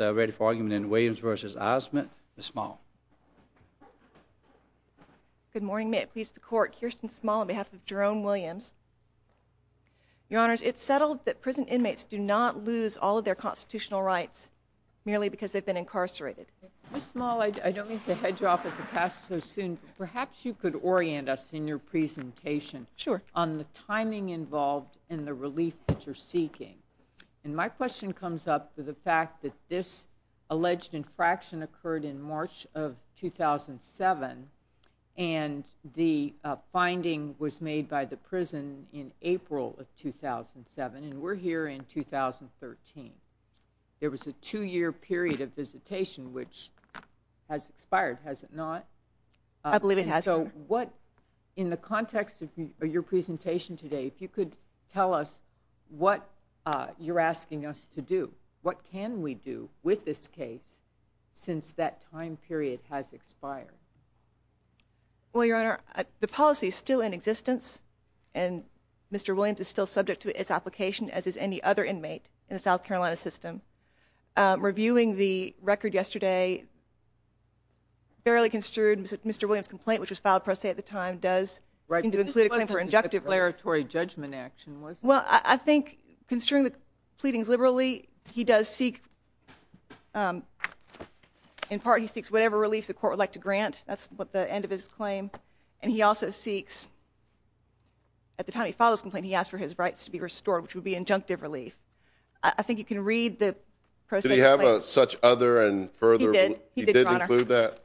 Ready for argument in Williams v. Ozmint, Ms. Small. Good morning. May it please the Court, Kirsten Small on behalf of Jerome Williams. Your Honors, it's settled that prison inmates do not lose all of their constitutional rights merely because they've been incarcerated. Ms. Small, I don't mean to hedge you off of the past so soon. Perhaps you could orient us in your presentation on the timing involved in the relief that you're seeking. And my question comes up with the fact that this alleged infraction occurred in March of 2007 and the finding was made by the prison in April of 2007 and we're here in 2013. There was a two-year period of visitation which has expired, has it not? In the context of your presentation today, if you could tell us what you're asking us to do. What can we do with this case since that time period has expired? Well, Your Honor, the policy is still in existence and Mr. Williams is still subject to its application as is any other inmate in the South Carolina system. Reviewing the record yesterday, barely construed, Mr. Williams' complaint, which was filed pro se at the time, does... This wasn't a declaratory judgment action, was it? Well, I think, construing the pleadings liberally, he does seek, in part, he seeks whatever relief the Court would like to grant. That's the end of his claim. And he also seeks, at the time he filed his complaint, he asked for his rights to be restored, which would be injunctive relief. I think you can read the... Did he have such other and further... He did. He did, Your Honor. He did include that?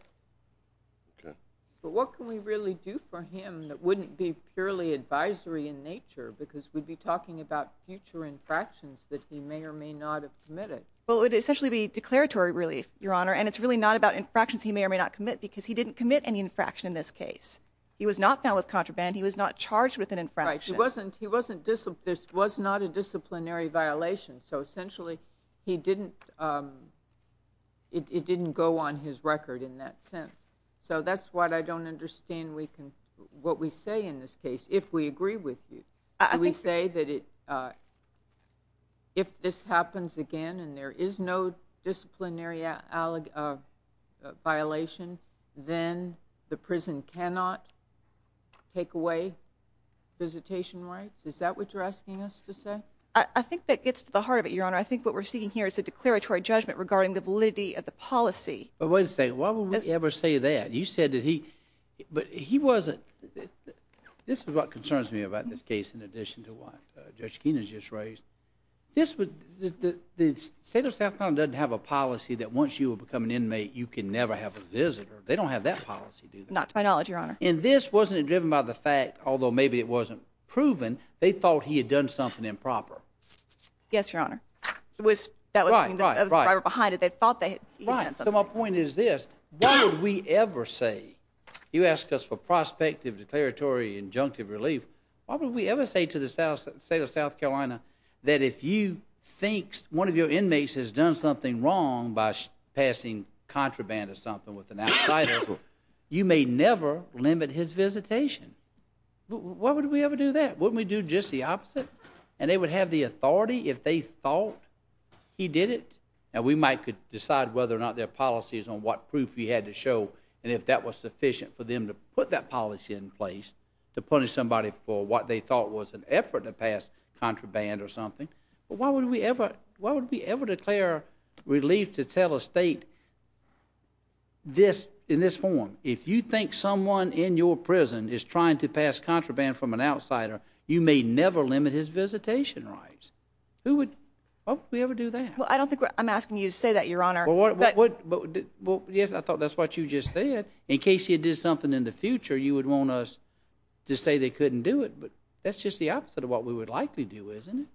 But what can we really do for him that wouldn't be purely advisory in nature because we'd be talking about future infractions that he may or may not have committed? Well, it would essentially be declaratory relief, Your Honor, and it's really not about infractions he may or may not commit because he didn't commit any infraction in this case. He was not found with contraband. He was not charged with an infraction. Right. He wasn't... This was not a disciplinary violation. So, essentially, he didn't... It didn't go on his record in that sense. So that's why I don't understand what we say in this case, if we agree with you. We say that if this happens again and there is no disciplinary violation, then the prison cannot take away visitation rights? Is that what you're asking us to say? I think that gets to the heart of it, Your Honor. I think what we're seeking here is a declaratory judgment regarding the validity of the policy. But wait a second. Why would we ever say that? You said that he... But he wasn't... This is what concerns me about this case in addition to what Judge Keenan just raised. This would... The state of South Carolina doesn't have a policy that once you become an inmate, you can never have a visitor. They don't have that policy, do they? Not to my knowledge, Your Honor. And this wasn't driven by the fact, although maybe it wasn't proven, they thought he had done something improper. Yes, Your Honor. It was... That was... Right, right, right. They were behind it. They thought that he had done something... Right. So my point is this. Why would we ever say... You ask us for prospective, declaratory, injunctive relief. Why would we ever say to the state of South Carolina that if you think one of your inmates has done something wrong by passing contraband or something with an outsider, you may never limit his visitation? Why would we ever do that? Wouldn't we do just the opposite? And they would have the authority if they thought he did it? And we might decide whether or not there are policies on what proof he had to show and if that was sufficient for them to put that policy in place to punish somebody for what they thought was an effort to pass contraband or something. But why would we ever declare relief to tell a state this, in this form? If you think someone in your prison is trying to pass contraband from an outsider, you may never limit his visitation rights. Who would... Why would we ever do that? Well, I don't think we're... I'm asking you to say that, Your Honor. Well, yes, I thought that's what you just said. In case he did something in the future, you would want us to say they couldn't do it. But that's just the opposite of what we would likely do, isn't it?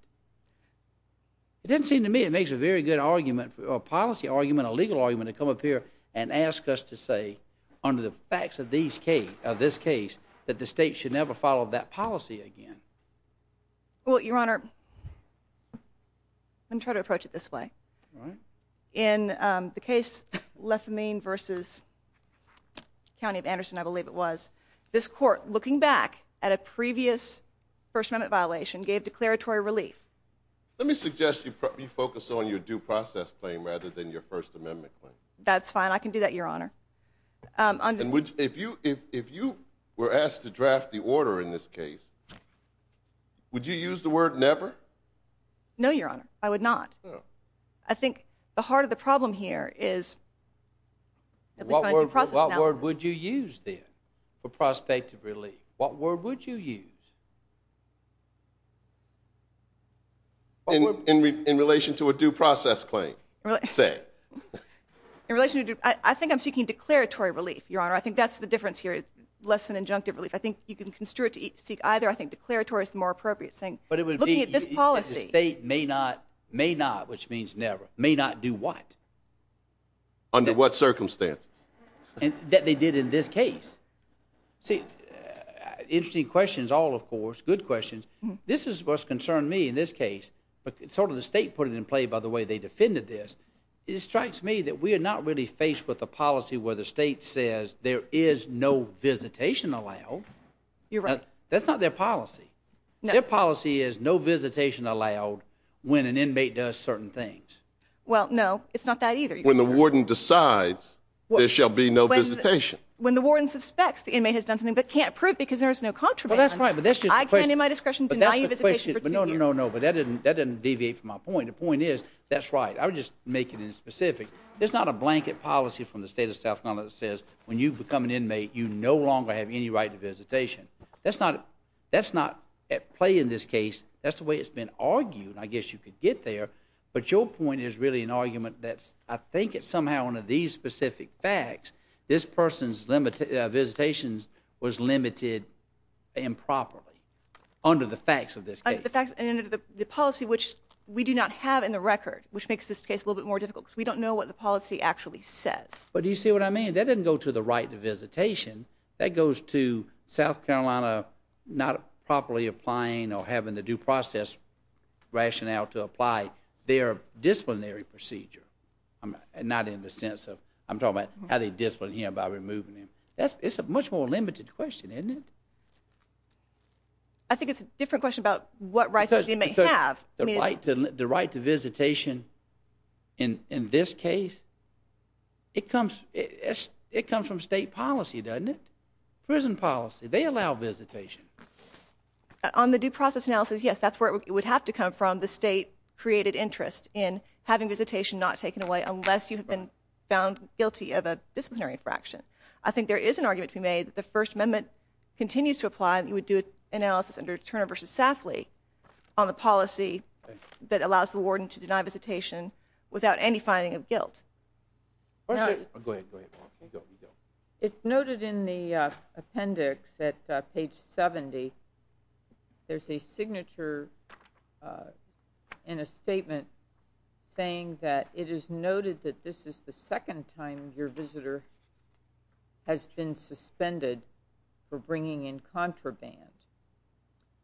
It doesn't seem to me it makes a very good argument, a policy argument, a legal argument, to come up here and ask us to say, under the facts of this case, that the state should never follow that policy again. Well, Your Honor, let me try to approach it this way. In the case, Lefamine v. County of Anderson, I believe it was, this court, looking back at a previous First Amendment violation, gave declaratory relief. Let me suggest you focus on your due process claim rather than your First Amendment claim. That's fine. I can do that, Your Honor. If you were asked to draft the order in this case, would you use the word never? No, Your Honor, I would not. I think the heart of the problem here is... What word would you use then for prospective relief? What word would you use? In relation to a due process claim, say. I think I'm seeking declaratory relief, Your Honor. I think that's the difference here, less than injunctive relief. I think you can construe it to seek either. I think declaratory is the more appropriate thing. But it would be... Looking at this policy... The state may not, may not, which means never, may not do what? Under what circumstances? That they did in this case. See, interesting questions all, of course, good questions. This is what's concerned me in this case. Sort of the state put it in play by the way they defended this. It strikes me that we are not really faced with a policy where the state says there is no visitation allowed. You're right. That's not their policy. Their policy is no visitation allowed when an inmate does certain things. Well, no, it's not that either. When the warden decides there shall be no visitation. When the warden suspects the inmate has done something but can't prove because there is no contraband. Well, that's right, but that's just the question. I can, in my discretion, deny you visitation for two years. No, no, no, no, but that didn't deviate from my point. The point is, that's right. I'm just making it specific. It's not a blanket policy from the state of South Carolina that says when you become an inmate, you no longer have any right to visitation. That's not at play in this case. That's the way it's been argued. I guess you could get there, but your point is really an argument that I think it's somehow one of these specific facts. This person's visitation was limited improperly under the facts of this case. Under the policy, which we do not have in the record, which makes this case a little bit more difficult because we don't know what the policy actually says. But do you see what I mean? That doesn't go to the right to visitation. That goes to South Carolina not properly applying or having the due process rationale to apply their disciplinary procedure, not in the sense of I'm talking about how they discipline him by removing him. It's a much more limited question, isn't it? I think it's a different question about what rights does the inmate have. The right to visitation in this case, it comes from state policy, doesn't it? Prison policy. They allow visitation. On the due process analysis, yes, that's where it would have to come from. The state created interest in having visitation not taken away unless you have been found guilty of a disciplinary infraction. I think there is an argument to be made that the First Amendment continues to apply. You would do an analysis under Turner v. Safley on the policy that allows the warden to deny visitation without any finding of guilt. It's noted in the appendix at page 70. There's a signature in a statement saying that it is noted that this is the second time your visitor has been suspended for bringing in contraband.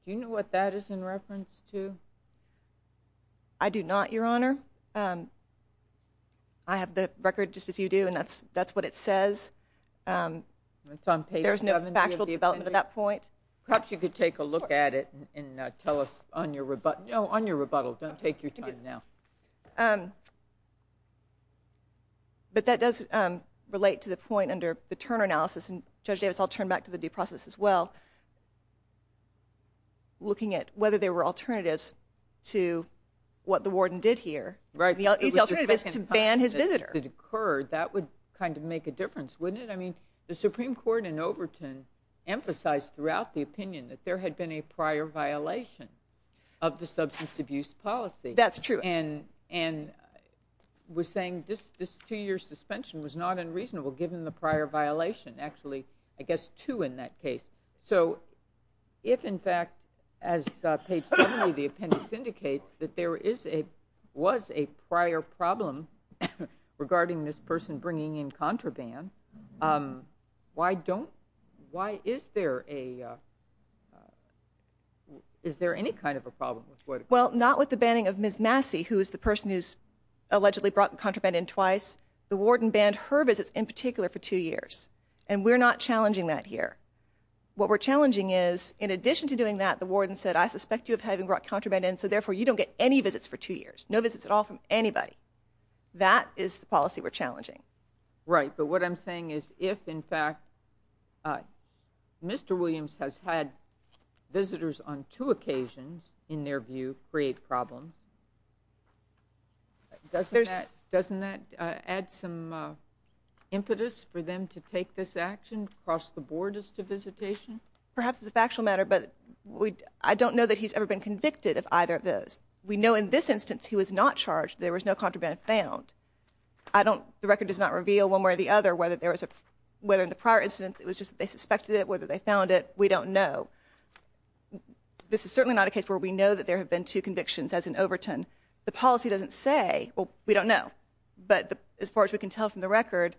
Do you know what that is in reference to? I do not, Your Honor. I have the record just as you do, and that's what it says. It's on page 70 of the appendix. There's no factual development at that point. Perhaps you could take a look at it and tell us on your rebuttal. No, on your rebuttal. Don't take your time now. But that does relate to the point under the Turner analysis, and Judge Davis, I'll turn back to the due process as well, looking at whether there were alternatives to what the warden did here. Right. The easy alternative is to ban his visitor. That would kind of make a difference, wouldn't it? I mean, the Supreme Court in Overton emphasized throughout the opinion that there had been a prior violation of the substance abuse policy. That's true. And was saying this two-year suspension was not unreasonable, given the prior violation. Actually, I guess two in that case. So if, in fact, as page 70 of the appendix indicates, that there was a prior problem regarding this person bringing in contraband, why is there any kind of a problem? Well, not with the banning of Ms. Massey, who is the person who's allegedly brought contraband in twice. The warden banned her visits in particular for two years, and we're not challenging that here. What we're challenging is, in addition to doing that, the warden said, I suspect you of having brought contraband in, so therefore you don't get any visits for two years. No visits at all from anybody. That is the policy we're challenging. Right. But what I'm saying is if, in fact, Mr. Williams has had visitors on two occasions, in their view, create problems, doesn't that add some impetus for them to take this action, cross the borders to visitation? Perhaps it's a factual matter, but I don't know that he's ever been convicted of either of those. We know in this instance he was not charged. There was no contraband found. The record does not reveal, one way or the other, whether in the prior instance it was just that they suspected it, whether they found it. We don't know. This is certainly not a case where we know that there have been two convictions, as in Overton. The policy doesn't say, well, we don't know, but as far as we can tell from the record,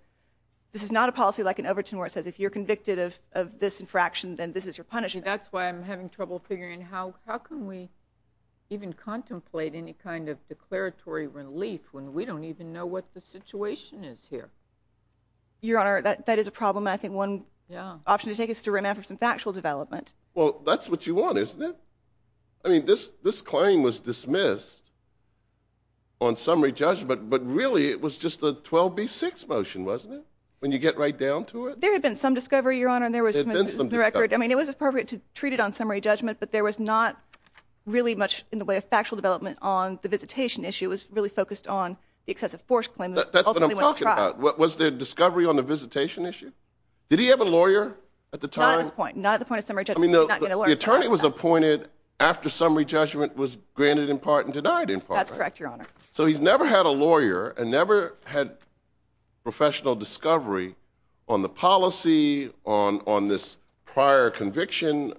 this is not a policy like in Overton where it says if you're convicted of this infraction, then this is your punishment. That's why I'm having trouble figuring how can we even contemplate any kind of declaratory relief when we don't even know what the situation is here. Your Honor, that is a problem. I think one option to take is to remand for some factual development. Well, that's what you want, isn't it? I mean, this claim was dismissed on summary judgment, but really it was just a 12B6 motion, wasn't it, when you get right down to it? There had been some discovery, Your Honor. There had been some discovery. I mean, it was appropriate to treat it on summary judgment, but there was not really much in the way of factual development on the visitation issue. It was really focused on the excessive force claim that ultimately went to trial. Was there discovery on the visitation issue? Did he have a lawyer at the time? Not at this point. Not at the point of summary judgment. I mean, the attorney was appointed after summary judgment was granted in part and denied in part. That's correct, Your Honor. So he's never had a lawyer and never had professional discovery on the policy, on this prior conviction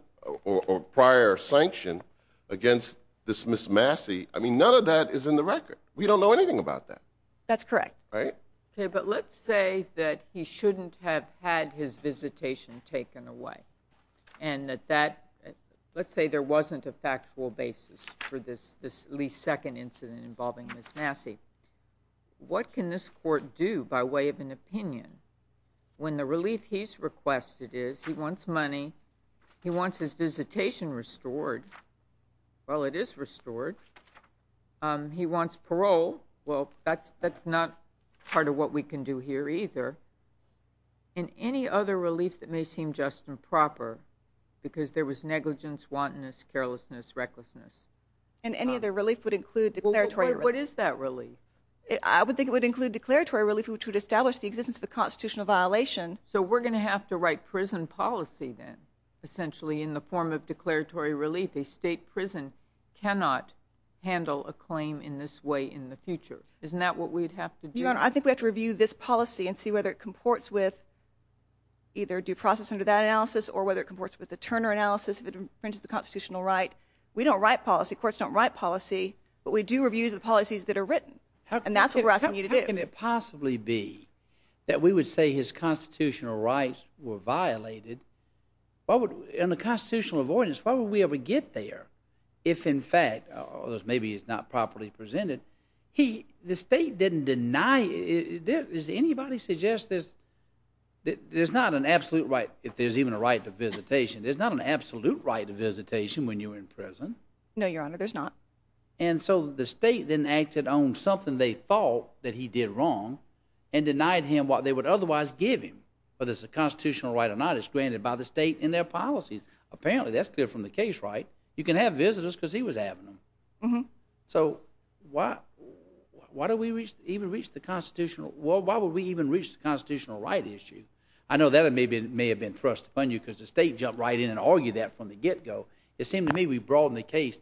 or prior sanction against this Miss Massey. I mean, none of that is in the record. We don't know anything about that. That's correct. Okay, but let's say that he shouldn't have had his visitation taken away and that that—let's say there wasn't a factual basis for this Lee's second incident involving Miss Massey. What can this court do by way of an opinion when the relief he's requested is he wants money, he wants his visitation restored—well, it is restored. He wants parole. Well, that's not part of what we can do here either. And any other relief that may seem just and proper because there was negligence, wantonness, carelessness, recklessness. And any other relief would include declaratory relief. What is that relief? I would think it would include declaratory relief, which would establish the existence of a constitutional violation. So we're going to have to write prison policy then, essentially, in the form of declaratory relief. A state prison cannot handle a claim in this way in the future. Isn't that what we'd have to do? Your Honor, I think we have to review this policy and see whether it comports with either due process under that analysis or whether it comports with the Turner analysis if it infringes the constitutional right. We don't write policy. Courts don't write policy, but we do review the policies that are written. And that's what we're asking you to do. How can it possibly be that we would say his constitutional rights were violated? In the constitutional avoidance, why would we ever get there if, in fact, although maybe it's not properly presented, the state didn't deny it. Does anybody suggest there's not an absolute right if there's even a right to visitation? There's not an absolute right to visitation when you're in prison. No, Your Honor, there's not. And so the state then acted on something they thought that he did wrong and denied him what they would otherwise give him, whether it's a constitutional right or not. It's granted by the state in their policies. Apparently, that's clear from the case, right? You can have visitors because he was having them. So why do we even reach the constitutional right issue? I know that may have been thrust upon you because the state jumped right in and argued that from the get-go. It seemed to me we broadened the case,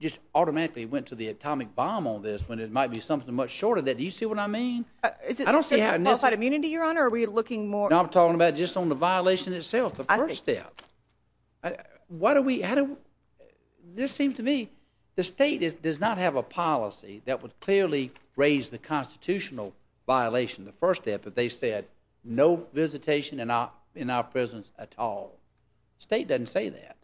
just automatically went to the atomic bomb on this when it might be something much shorter than that. Do you see what I mean? Is it qualified immunity, Your Honor, or are we looking more— No, I'm talking about just on the violation itself, the first step. Why do we—this seems to me the state does not have a policy that would clearly raise the constitutional violation, the first step, if they said no visitation in our prisons at all. The state doesn't say that.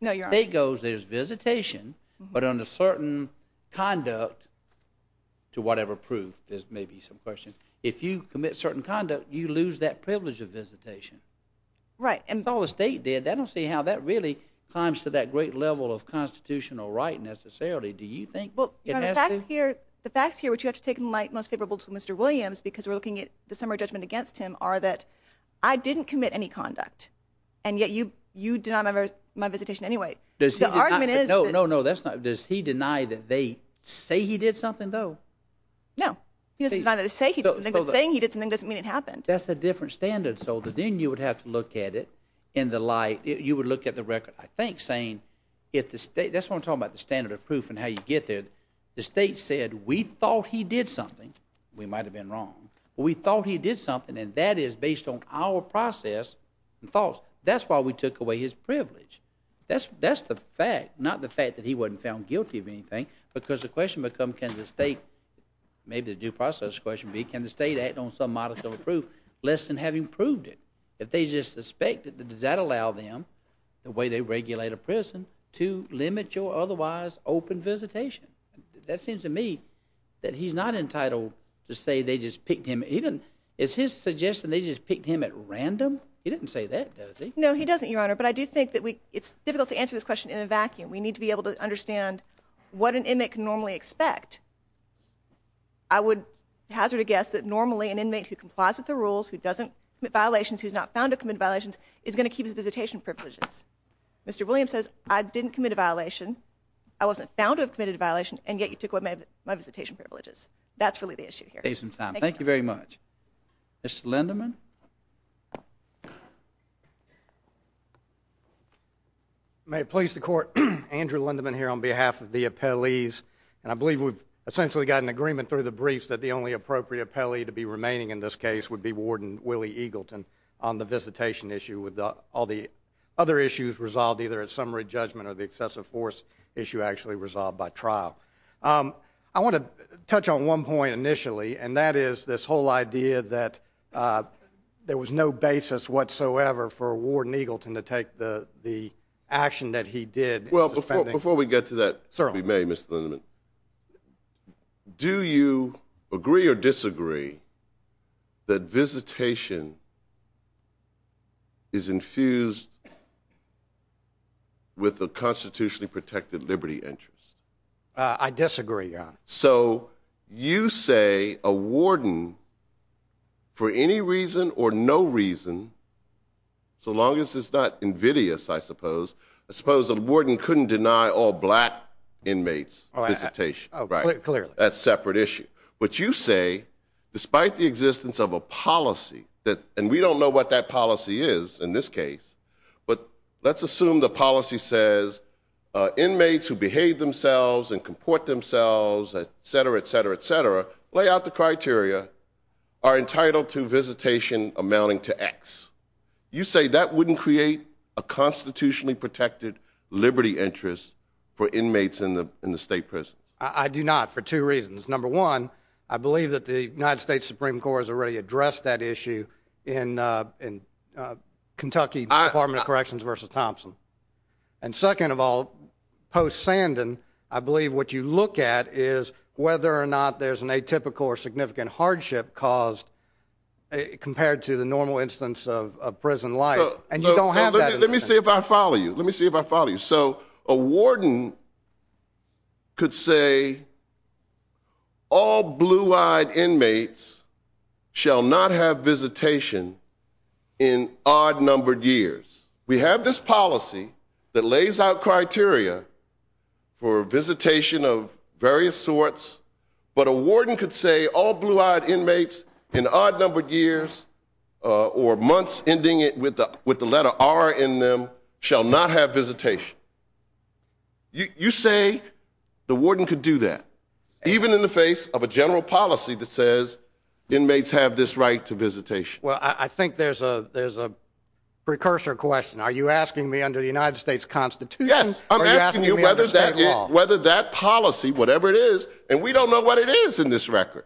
No, Your Honor. The state goes there's visitation, but under certain conduct, to whatever proof. There may be some questions. If you commit certain conduct, you lose that privilege of visitation. Right. That's all the state did. I don't see how that really climbs to that great level of constitutional right necessarily. Do you think it has to— The facts here, which you have to take in light most favorable to Mr. Williams because we're looking at the summary judgment against him, are that I didn't commit any conduct, and yet you deny my visitation anyway. The argument is that— No, no, no. Does he deny that they say he did something, though? No. He doesn't deny that they say he did something, but saying he did something doesn't mean it happened. That's a different standard, so then you would have to look at it in the light— you would look at the record, I think, saying if the state— that's what I'm talking about, the standard of proof and how you get there. The state said we thought he did something. We might have been wrong, but we thought he did something, and that is based on our process and thoughts. That's why we took away his privilege. That's the fact, not the fact that he wasn't found guilty of anything, because the question becomes can the state— maybe the due process question would be can the state act on some modicum of proof less than having proved it? If they just suspect, does that allow them, the way they regulate a person, to limit your otherwise open visitation? That seems to me that he's not entitled to say they just picked him— is his suggestion they just picked him at random? He doesn't say that, does he? No, he doesn't, Your Honor, but I do think that we— it's difficult to answer this question in a vacuum. We need to be able to understand what an inmate can normally expect. I would hazard a guess that normally an inmate who complies with the rules, who doesn't commit violations, who's not found to have committed violations, is going to keep his visitation privileges. Mr. Williams says I didn't commit a violation, I wasn't found to have committed a violation, and yet you took away my visitation privileges. That's really the issue here. Thank you very much. Mr. Linderman? May it please the Court, Andrew Linderman here on behalf of the appellees, and I believe we've essentially got an agreement through the briefs that the only appropriate appellee to be remaining in this case would be Warden Willie Eagleton on the visitation issue with all the other issues resolved either at summary judgment or the excessive force issue actually resolved by trial. I want to touch on one point initially, and that is this whole idea that a visitation privilege there was no basis whatsoever for Warden Eagleton to take the action that he did. Well, before we get to that, if we may, Mr. Linderman, do you agree or disagree that visitation is infused with a constitutionally protected liberty interest? I disagree, Your Honor. So you say a warden, for any reason or no reason, so long as it's not invidious, I suppose, I suppose a warden couldn't deny all black inmates visitation, right? Clearly. That's a separate issue. But you say, despite the existence of a policy, and we don't know what that policy is in this case, but let's assume the policy says inmates who behave themselves and comport themselves, et cetera, et cetera, et cetera, lay out the criteria are entitled to visitation amounting to X. You say that wouldn't create a constitutionally protected liberty interest for inmates in the state prison? I do not for two reasons. Number one, I believe that the United States Supreme Court has already addressed that issue in Kentucky Department of Corrections v. Thompson. And second of all, post-Sandon, I believe what you look at is whether or not there's an atypical or significant hardship caused compared to the normal instance of prison life. And you don't have that. Let me see if I follow you. Let me see if I follow you. So a warden could say all blue-eyed inmates shall not have visitation in odd-numbered years. We have this policy that lays out criteria for visitation of various sorts, but a warden could say all blue-eyed inmates in odd-numbered years or months ending with the letter R in them shall not have visitation. You say the warden could do that, even in the face of a general policy that says inmates have this right to visitation. Well, I think there's a precursor question. Are you asking me under the United States Constitution? Yes, I'm asking you whether that policy, whatever it is, and we don't know what it is in this record.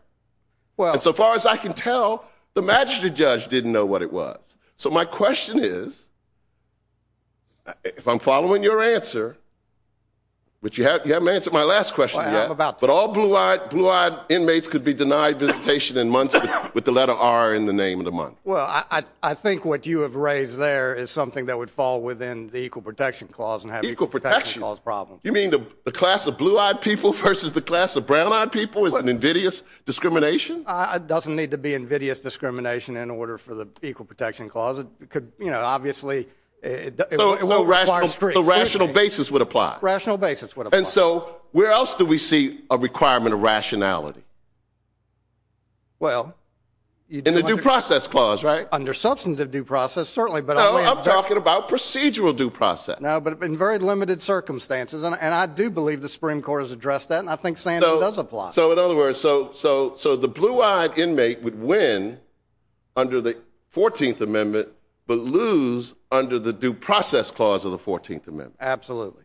And so far as I can tell, the magistrate judge didn't know what it was. So my question is, if I'm following your answer, which you haven't answered my last question yet, but all blue-eyed inmates could be denied visitation in months with the letter R in the name of the month. Well, I think what you have raised there is something that would fall within the Equal Protection Clause and have Equal Protection Clause problems. You mean the class of blue-eyed people versus the class of brown-eyed people is an invidious discrimination? It doesn't need to be invidious discrimination in order for the Equal Protection Clause. It could, you know, obviously, it would require strict scrutiny. No, rational basis would apply. Rational basis would apply. And so where else do we see a requirement of rationality? Well... In the Due Process Clause, right? Under substantive due process, certainly, but... No, I'm talking about procedural due process. No, but in very limited circumstances. And I do believe the Supreme Court has addressed that, and I think Sandy does apply. So in other words, so the blue-eyed inmate would win under the 14th Amendment but lose under the Due Process Clause of the 14th Amendment. Absolutely.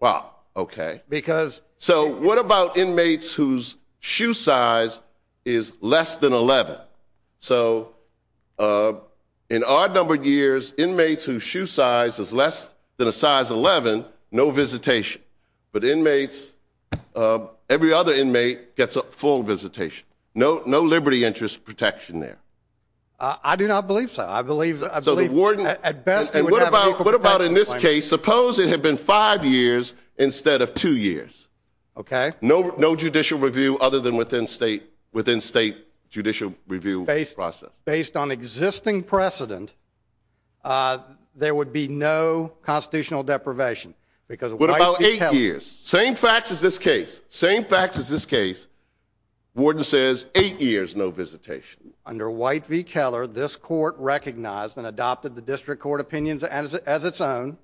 Wow, okay. Because... So what about inmates whose shoe size is less than 11? So in odd-numbered years, inmates whose shoe size is less than a size 11, no visitation. But inmates, every other inmate gets a full visitation. No liberty interest protection there. I do not believe so. I believe... So the warden... At best, they would have an Equal Protection Claim. They suppose it had been five years instead of two years. Okay. No judicial review other than within state judicial review process. Based on existing precedent, there would be no constitutional deprivation because White v. Keller... What about eight years? Same facts as this case. Same facts as this case. Warden says eight years, no visitation. Under White v. Keller, this court recognized and adopted the district court opinions as its own,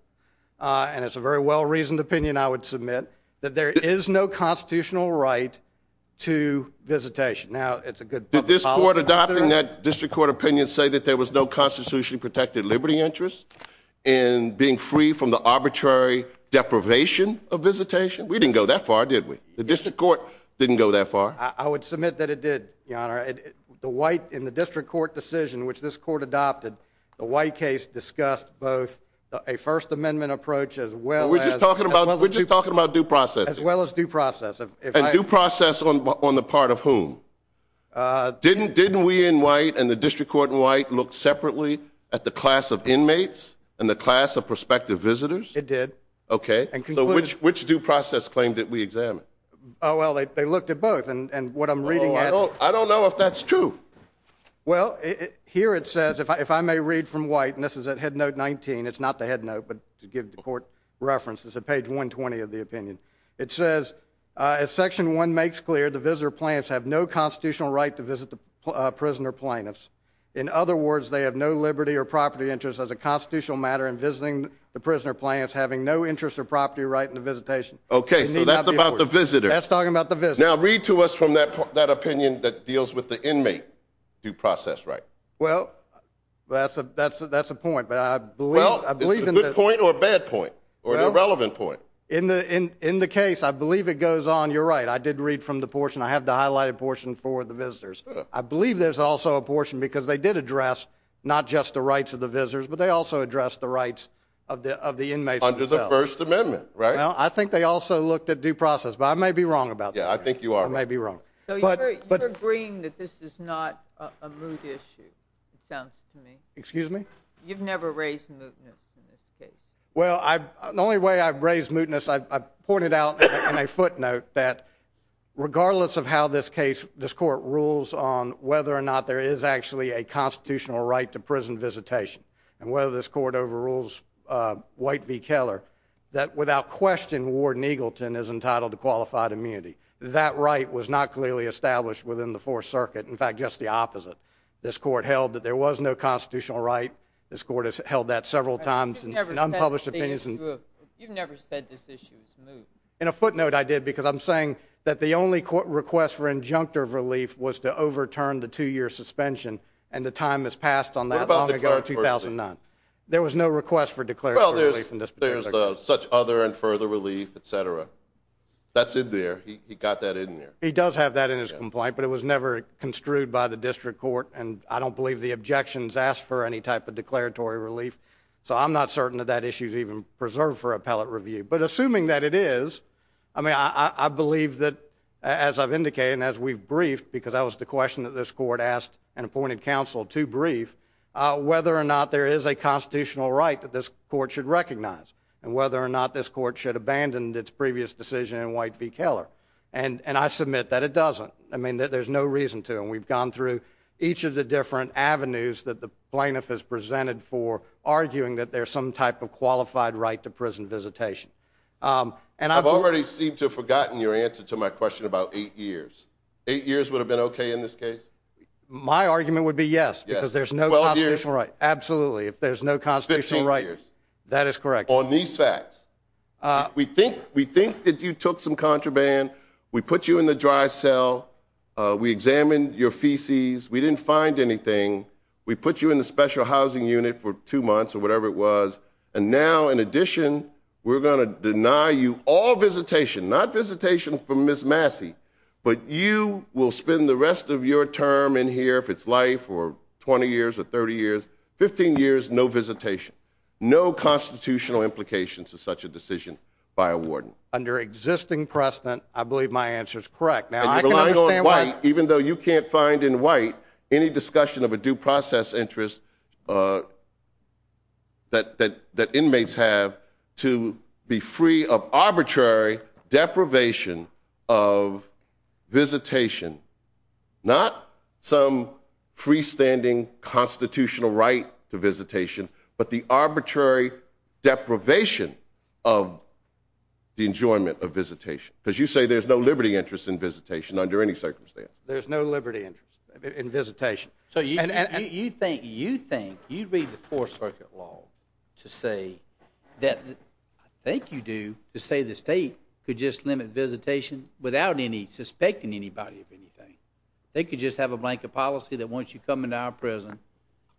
and it's a very well-reasoned opinion, I would submit, that there is no constitutional right to visitation. Now, it's a good... Did this court adopting that district court opinion say that there was no constitutionally protected liberty interest in being free from the arbitrary deprivation of visitation? We didn't go that far, did we? The district court didn't go that far? I would submit that it did, Your Honor. In the district court decision which this court adopted, the White case discussed both a First Amendment approach as well as... We're just talking about due process. As well as due process. And due process on the part of whom? Didn't we in White and the district court in White look separately at the class of inmates and the class of prospective visitors? It did. Okay. So which due process claim did we examine? Well, they looked at both, and what I'm reading... I don't know if that's true. Well, here it says, if I may read from White, and this is at headnote 19, it's not the headnote, but to give the court reference, it's at page 120 of the opinion. It says, as Section 1 makes clear, the visitor plaintiffs have no constitutional right to visit the prisoner plaintiffs. In other words, they have no liberty or property interest as a constitutional matter in visiting the prisoner plaintiffs having no interest or property right in the visitation. Okay, so that's about the visitor. That's talking about the visitor. Now read to us from that opinion that deals with the inmate due process right. Well, that's a point, but I believe... Well, is it a good point or a bad point or an irrelevant point? In the case, I believe it goes on. You're right, I did read from the portion. I have the highlighted portion for the visitors. I believe there's also a portion because they did address not just the rights of the visitors, but they also addressed the rights of the inmates themselves. Under the First Amendment, right? Well, I think they also looked at due process, but I may be wrong about that. Yeah, I think you are. I may be wrong. So you're agreeing that this is not a moot issue, it sounds to me. Excuse me? You've never raised mootness in this case. Well, the only way I've raised mootness, I pointed out in a footnote that regardless of how this court rules on whether or not there is actually a constitutional right to prison visitation and whether this court overrules White v. Keller, that without question Warden Eagleton is entitled to qualified immunity. That right was not clearly established within the Fourth Circuit. In fact, just the opposite. This court held that there was no constitutional right. This court has held that several times in unpublished opinions. You've never said this issue is moot. In a footnote, I did because I'm saying that the only court request for injunctive relief was to overturn the two-year suspension, and the time has passed on that long ago, 2009. There was no request for declaratory relief in this particular case. Such other and further relief, et cetera. That's in there. He got that in there. He does have that in his complaint, but it was never construed by the district court, and I don't believe the objections asked for any type of declaratory relief, so I'm not certain that that issue is even preserved for appellate review. But assuming that it is, I believe that, as I've indicated and as we've briefed, because that was the question that this court asked an appointed counsel to brief, whether or not there is a constitutional right that this court should recognize and whether or not this court should abandon its previous decision in White v. Keller, and I submit that it doesn't. I mean, there's no reason to, and we've gone through each of the different avenues that the plaintiff has presented for arguing that there's some type of qualified right to prison visitation. I've already seemed to have forgotten your answer to my question about eight years. Eight years would have been okay in this case? My argument would be yes, because there's no constitutional right. Absolutely, if there's no constitutional right. Fifteen years. That is correct. On these facts, we think that you took some contraband, we put you in the dry cell, we examined your feces, we didn't find anything, we put you in the special housing unit for two months or whatever it was, and now, in addition, we're going to deny you all visitation, not visitation from Ms. Massey, but you will spend the rest of your term in here, if it's life, for 20 years or 30 years. Fifteen years, no visitation. No constitutional implication to such a decision by a warden. Under existing precedent, I believe my answer is correct. Now, I can understand why. And you're relying on White, even though you can't find in White any discussion of a due process interest that inmates have to be free of arbitrary deprivation of visitation. Not some freestanding constitutional right to visitation, but the arbitrary deprivation of the enjoyment of visitation. Because you say there's no liberty interest in visitation under any circumstance. There's no liberty interest in visitation. So you think you'd read the Fourth Circuit law to say that, I think you do, to say the state could just limit visitation without suspecting anybody of anything. They could just have a blanket policy that once you come into our prison,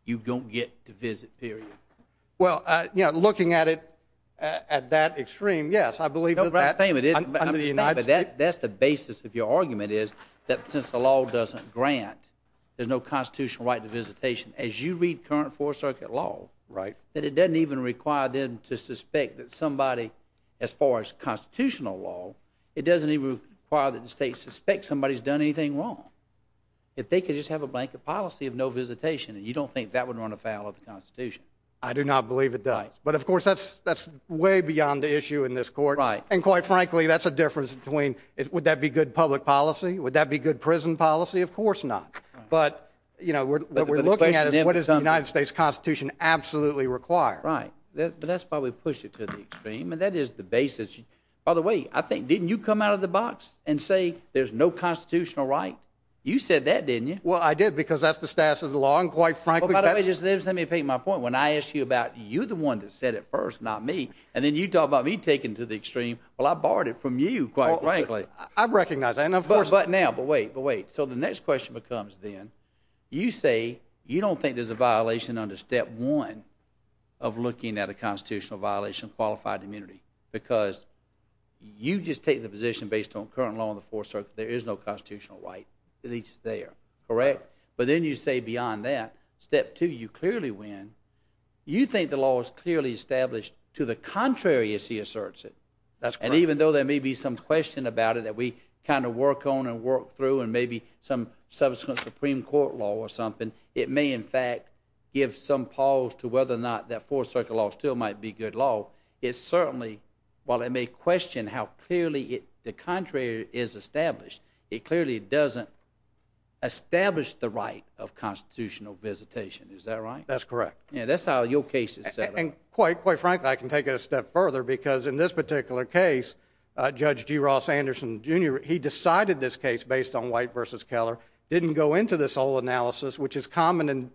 you don't get to visit, period. Well, you know, looking at it at that extreme, yes, I believe that that under the United States That's the basis of your argument is that since the law doesn't grant, there's no constitutional right to visitation, as you read current Fourth Circuit law, that it doesn't even require them to suspect that somebody, as far as constitutional law, it doesn't even require that the state suspects somebody's done anything wrong. If they could just have a blanket policy of no visitation, you don't think that would run afoul of the Constitution. I do not believe it does. But of course, that's way beyond the issue in this court. And quite frankly, that's a difference between, would that be good public policy? Would that be good prison policy? Of course not. But, you know, what we're looking at is what does the United States Constitution absolutely require? Right. But that's why we push it to the extreme. And that is the basis. By the way, I think, didn't you come out of the box and say there's no constitutional right? You said that, didn't you? Well, I did, because that's the status of the law. And quite frankly, that's By the way, just let me paint my point. When I ask you about, you're the one that said it first, not me. And then you talk about me taking it to the extreme. Well, I borrowed it from you, quite frankly. I recognize that, and of course But now, but wait, but wait. So the next question becomes then, you say you don't think there's a violation under step one of looking at a constitutional violation of qualified immunity. Because you just take the position based on current law in the Fourth Circuit, there is no constitutional right. At least there. Correct? But then you say beyond that, step two, you clearly win. You think the law is clearly established to the contrary as he asserts it. That's correct. And even though there may be some question about it that we kind of work on and work through, and maybe some subsequent Supreme Court law or something, it may, in fact, give some pause to whether or not that Fourth Circuit law still might be good law. It certainly, while it may question how clearly the contrary is established, it clearly doesn't establish the right of constitutional visitation. Is that right? That's correct. Yeah, that's how your case is set up. And I think, quite frankly, I can take it a step further because in this particular case, Judge G. Ross Anderson, Jr., he decided this case based on White v. Keller, didn't go into this whole analysis, which is common in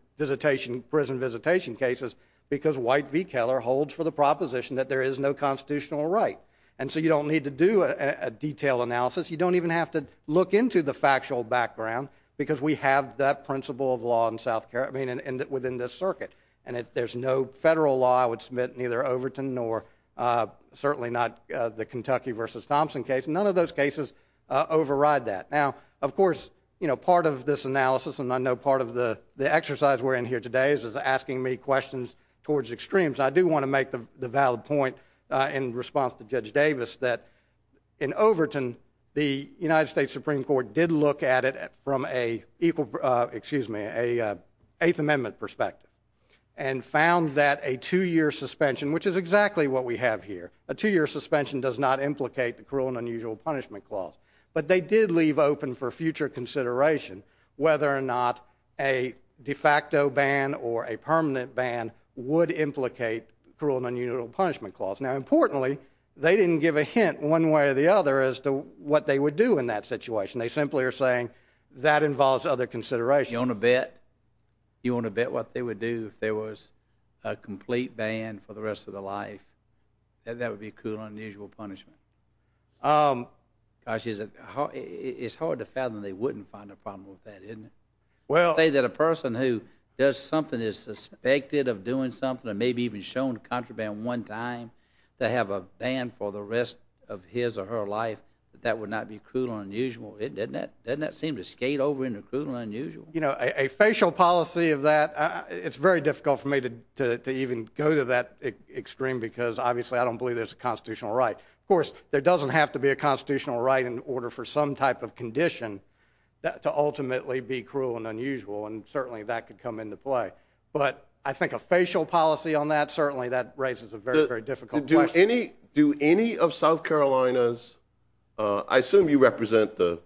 prison visitation cases, because White v. Keller holds for the proposition that there is no constitutional right. And so you don't need to do a detailed analysis. You don't even have to look into the factual background because we have that principle of law within this circuit, and if there's no federal law, I would submit neither Overton nor certainly not the Kentucky v. Thompson case. None of those cases override that. Now, of course, part of this analysis, and I know part of the exercise we're in here today, is asking me questions towards extremes. I do want to make the valid point in response to Judge Davis that in Overton, the United States Supreme Court did look at it from an Eighth Amendment perspective and found that a two-year suspension, which is exactly what we have here, a two-year suspension does not implicate the cruel and unusual punishment clause. But they did leave open for future consideration whether or not a de facto ban or a permanent ban would implicate cruel and unusual punishment clause. Now, importantly, they didn't give a hint one way or the other as to what they would do in that situation. They simply are saying that involves other consideration. You want to bet what they would do if there was a complete ban for the rest of their life? That would be cruel and unusual punishment. Gosh, it's hard to fathom they wouldn't find a problem with that, isn't it? They say that a person who does something that is suspected of doing something and maybe even shown to contraband one time to have a ban for the rest of his or her life, that would not be cruel and unusual. Doesn't that seem to skate over into cruel and unusual? You know, a facial policy of that, it's very difficult for me to even go to that extreme because obviously I don't believe there's a constitutional right. Of course, there doesn't have to be a constitutional right in order for some type of condition to ultimately be cruel and unusual, and certainly that could come into play. But I think a facial policy on that, certainly that raises a very, very difficult question. Do any of South Carolina's, I assume you represent the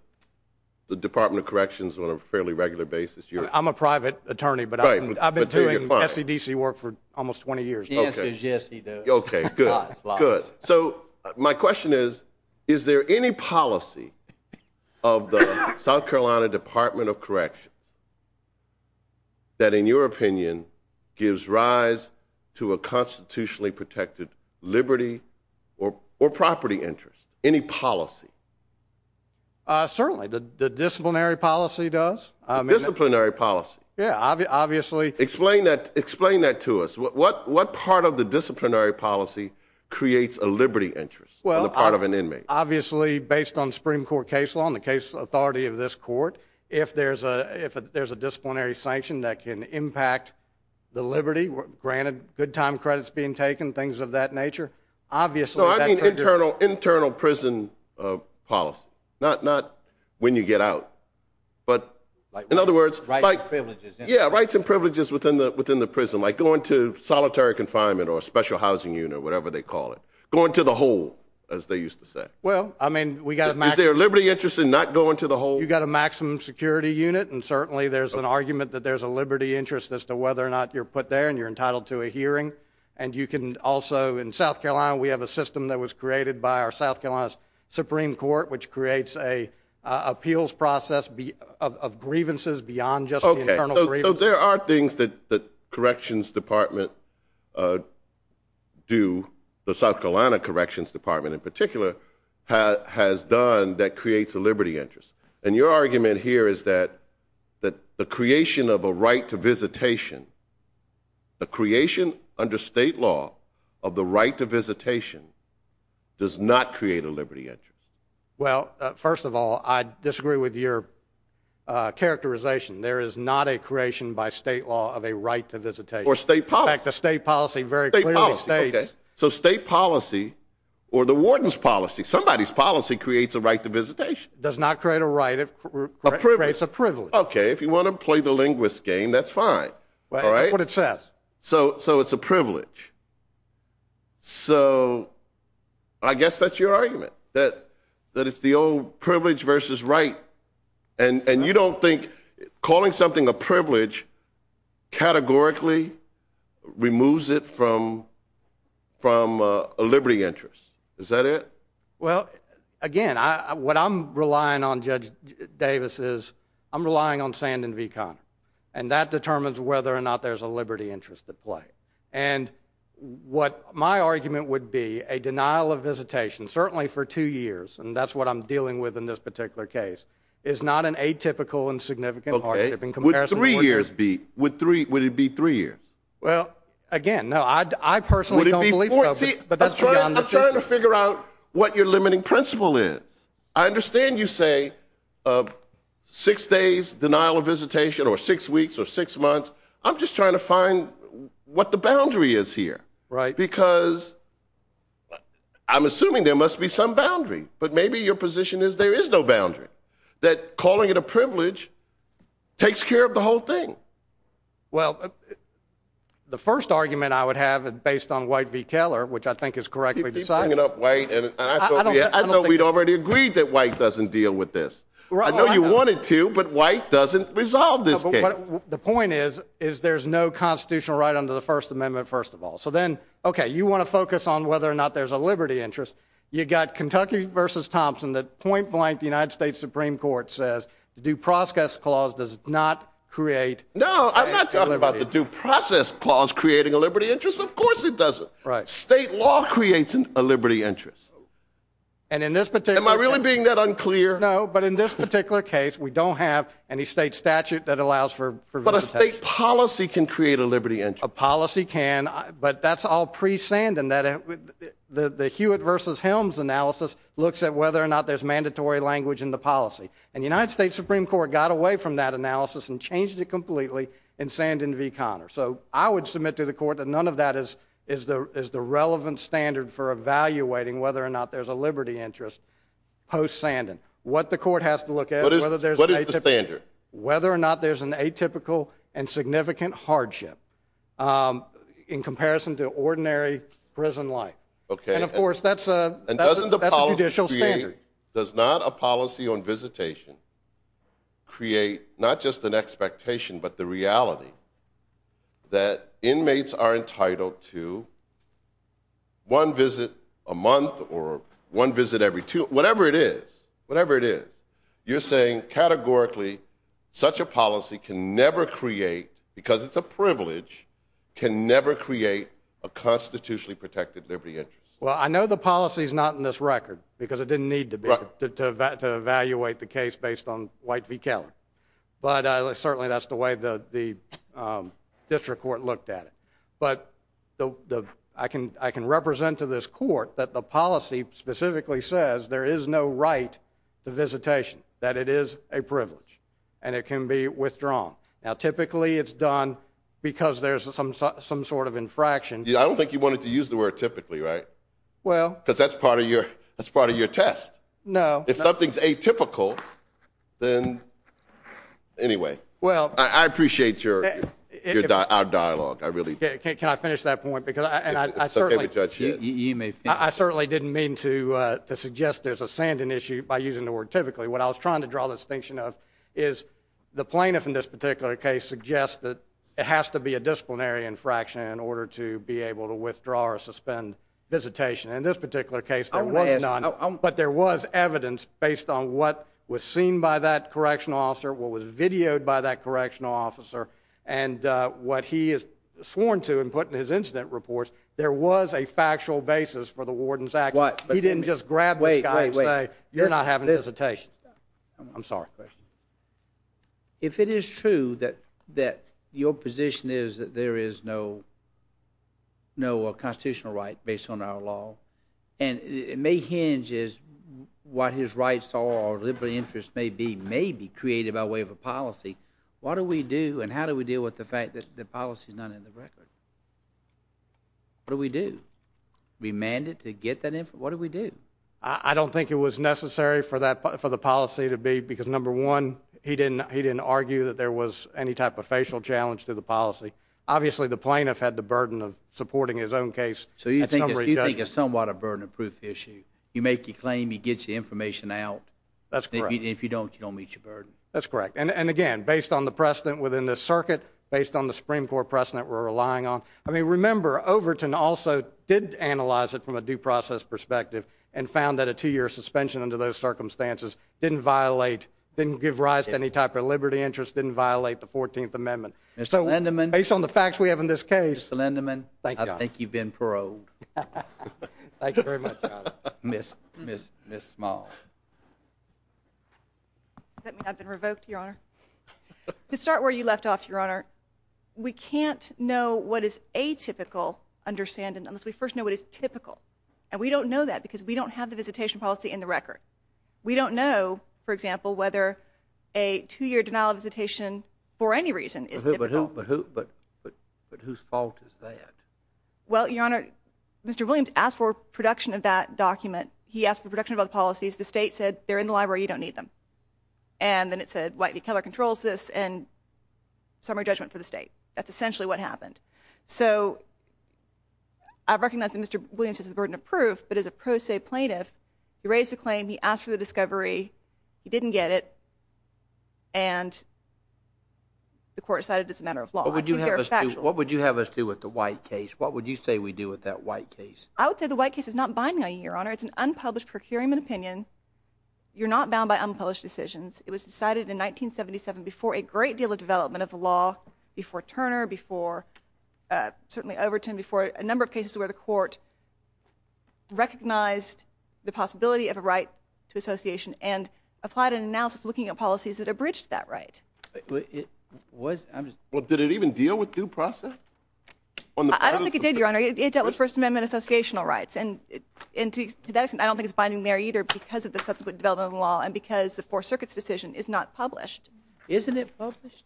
Department of Corrections on a fairly regular basis. I'm a private attorney, but I've been doing SEDC work for almost 20 years. The answer is yes, he does. Okay, good. So my question is, is there any policy of the South Carolina Department of Corrections that in your opinion gives rise to a constitutionally protected liberty or property interest? Any policy? Certainly. The disciplinary policy does. The disciplinary policy. Yeah, obviously. Explain that to us. What part of the disciplinary policy creates a liberty interest on the part of an inmate? Well, obviously based on Supreme Court case law and the case authority of this court, if there's a disciplinary sanction that can impact the liberty, granted good time credits being taken, things of that nature, obviously that— No, I mean internal prison policy, not when you get out. But in other words— Rights and privileges. Yeah, rights and privileges within the prison. Like going to solitary confinement or a special housing unit, whatever they call it. Going to the hole, as they used to say. Well, I mean we got a— Is there a liberty interest in not going to the hole? You got a maximum security unit, and certainly there's an argument that there's a liberty interest as to whether or not you're put there and you're entitled to a hearing. And you can also, in South Carolina we have a system that was created by our South Carolina Supreme Court which creates an appeals process of grievances beyond just the internal grievance. So there are things that the Corrections Department do, the South Carolina Corrections Department in particular, has done that creates a liberty interest. And your argument here is that the creation of a right to visitation, the creation under state law of the right to visitation does not create a liberty interest. Well, first of all, I disagree with your characterization. There is not a creation by state law of a right to visitation. Or state policy. In fact, the state policy very clearly states— State policy, okay. So state policy or the warden's policy, somebody's policy creates a right to visitation. Does not create a right, it creates a privilege. Okay, if you want to play the linguist game, that's fine. All right? That's what it says. So it's a privilege. So I guess that's your argument, that it's the old privilege versus right. And you don't think calling something a privilege categorically removes it from a liberty interest. Is that it? Well, again, what I'm relying on, Judge Davis, is I'm relying on Sand and V Connor. And that determines whether or not there's a liberty interest at play. And what my argument would be, a denial of visitation, certainly for two years, and that's what I'm dealing with in this particular case, is not an atypical and significant hardship in comparison. Would three years be—would it be three years? Well, again, no, I personally don't believe that. I'm trying to figure out what your limiting principle is. I understand you say six days denial of visitation or six weeks or six months. I'm just trying to find what the boundary is here. Because I'm assuming there must be some boundary. But maybe your position is there is no boundary, that calling it a privilege takes care of the whole thing. Well, the first argument I would have, based on White v. Keller, which I think is correctly decided— You keep bringing up White, and I thought we'd already agreed that White doesn't deal with this. I know you wanted to, but White doesn't resolve this case. The point is, is there's no constitutional right under the First Amendment, first of all. So then, okay, you want to focus on whether or not there's a liberty interest. You've got Kentucky v. Thompson that point-blank, the United States Supreme Court says, the due process clause does not create a liberty interest. No, I'm not talking about the due process clause creating a liberty interest. Of course it doesn't. Right. State law creates a liberty interest. Am I really being that unclear? No, but in this particular case, we don't have any state statute that allows for visitation. But a state policy can create a liberty interest. A policy can, but that's all pre-Sandon. The Hewitt v. Helms analysis looks at whether or not there's mandatory language in the policy. And the United States Supreme Court got away from that analysis and changed it completely in Sandon v. Conner. So I would submit to the court that none of that is the relevant standard for evaluating whether or not there's a liberty interest post-Sandon. What the court has to look at— What is the standard? Whether or not there's an atypical and significant hardship in comparison to ordinary prison life. Okay. And, of course, that's a judicial standard. And doesn't the policy create—does not a policy on visitation create not just an expectation, but the reality that inmates are entitled to one visit a month or one visit every two—whatever it is. You're saying categorically such a policy can never create, because it's a privilege, can never create a constitutionally protected liberty interest. Well, I know the policy's not in this record because it didn't need to be to evaluate the case based on White v. Keller. But certainly that's the way the district court looked at it. But I can represent to this court that the policy specifically says there is no right to visitation, that it is a privilege, and it can be withdrawn. Now, typically it's done because there's some sort of infraction. I don't think you wanted to use the word typically, right? Well— Because that's part of your test. No. If something's atypical, then—anyway. Well— I appreciate your dialogue. Can I finish that point? It's okay with Judge Hitt. I certainly didn't mean to suggest there's a sanding issue by using the word typically. What I was trying to draw the distinction of is the plaintiff in this particular case suggests that it has to be a disciplinary infraction in order to be able to withdraw or suspend visitation. In this particular case, there was none. But there was evidence based on what was seen by that correctional officer, what was videoed by that correctional officer, and what he has sworn to and put in his incident reports. There was a factual basis for the warden's action. He didn't just grab the guy and say, you're not having a visitation. I'm sorry. If it is true that your position is that there is no constitutional right based on our law, and it may hinge as what his rights or liberal interests may be may be created by way of a policy, what do we do and how do we deal with the fact that the policy is not in the record? What do we do? Remand it to get that information? What do we do? I don't think it was necessary for the policy to be because, number one, he didn't argue that there was any type of facial challenge to the policy. Obviously, the plaintiff had the burden of supporting his own case. So you think it's somewhat a burden of proof issue. You make your claim. He gets the information out. That's correct. If you don't, you don't meet your burden. That's correct. And, again, based on the precedent within the circuit, based on the Supreme Court precedent we're relying on, I mean, remember, Overton also did analyze it from a due process perspective and found that a two-year suspension under those circumstances didn't violate, didn't give rise to any type of liberty interest, didn't violate the 14th Amendment. Mr. Lindeman. Based on the facts we have in this case. Mr. Lindeman, I think you've been paroled. Thank you very much. Ms. Small. Does that mean I've been revoked, Your Honor? To start where you left off, Your Honor, we can't know what is atypical understanding unless we first know what is typical. And we don't know that because we don't have the visitation policy in the record. We don't know, for example, whether a two-year denial of visitation for any reason is typical. But whose fault is that? Well, Your Honor, Mr. Williams asked for production of that document. He asked for production of other policies. The state said they're in the library, you don't need them. And then it said White v. Keller controls this, and summary judgment for the state. That's essentially what happened. So I recognize that Mr. Williams has the burden of proof, but as a pro se plaintiff, he raised the claim, he asked for the discovery, he didn't get it, and the court decided it's a matter of law. What would you have us do with the White case? What would you say we do with that White case? I would say the White case is not binding on you, Your Honor. It's an unpublished procurement opinion. You're not bound by unpublished decisions. It was decided in 1977 before a great deal of development of the law, before Turner, before certainly Overton, before a number of cases where the court recognized the possibility of a right to association and applied an analysis looking at policies that abridged that right. Well, did it even deal with due process? I don't think it did, Your Honor. It dealt with First Amendment associational rights, and to that extent, I don't think it's binding there either because of the subsequent development of the law and because the Fourth Circuit's decision is not published. Isn't it published?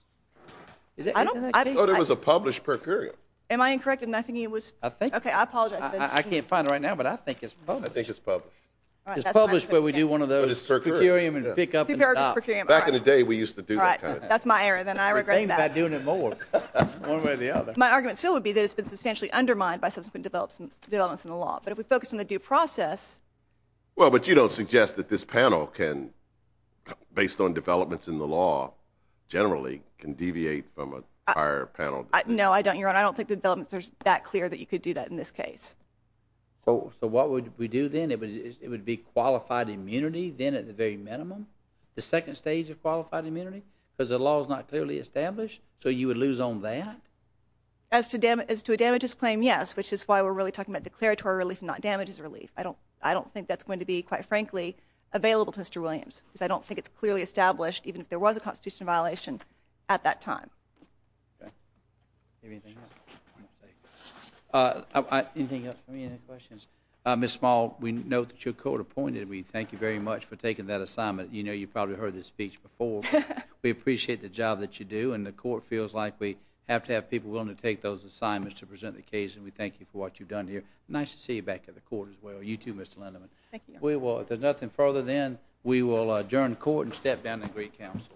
I thought it was a published procurement. Am I incorrect in my thinking it was? Okay, I apologize. I can't find it right now, but I think it's published. I think it's published. It's published where we do one of those procurement and pick up and drop. Back in the day, we used to do that kind of thing. All right, that's my area, then I regret that. I would think about doing it more. One way or the other. My argument still would be that it's been substantially undermined by subsequent developments in the law, but if we focus on the due process. Well, but you don't suggest that this panel can, based on developments in the law, generally can deviate from a prior panel. No, I don't, Your Honor. I don't think the developments are that clear that you could do that in this case. So what would we do then? It would be qualified immunity then at the very minimum, the second stage of qualified immunity because the law is not clearly established, so you would lose on that? As to a damages claim, yes, which is why we're really talking about declaratory relief and not damages relief. I don't think that's going to be, quite frankly, available to Mr. Williams because I don't think it's clearly established, even if there was a constitutional violation at that time. Okay. Anything else? Anything else for me? Any questions? Ms. Small, we note that you're court-appointed. We thank you very much for taking that assignment. You know you've probably heard this speech before. We appreciate the job that you do, and the court feels like we have to have people willing to take those assignments to present the case, and we thank you for what you've done here. Nice to see you back at the court as well. You too, Mr. Lindeman. Thank you. If there's nothing further then, we will adjourn the court and step down to the Greek Council.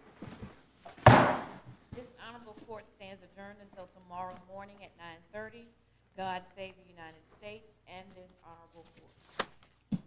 This honorable court stands adjourned until tomorrow morning at 9.30. God save the United States and this honorable court.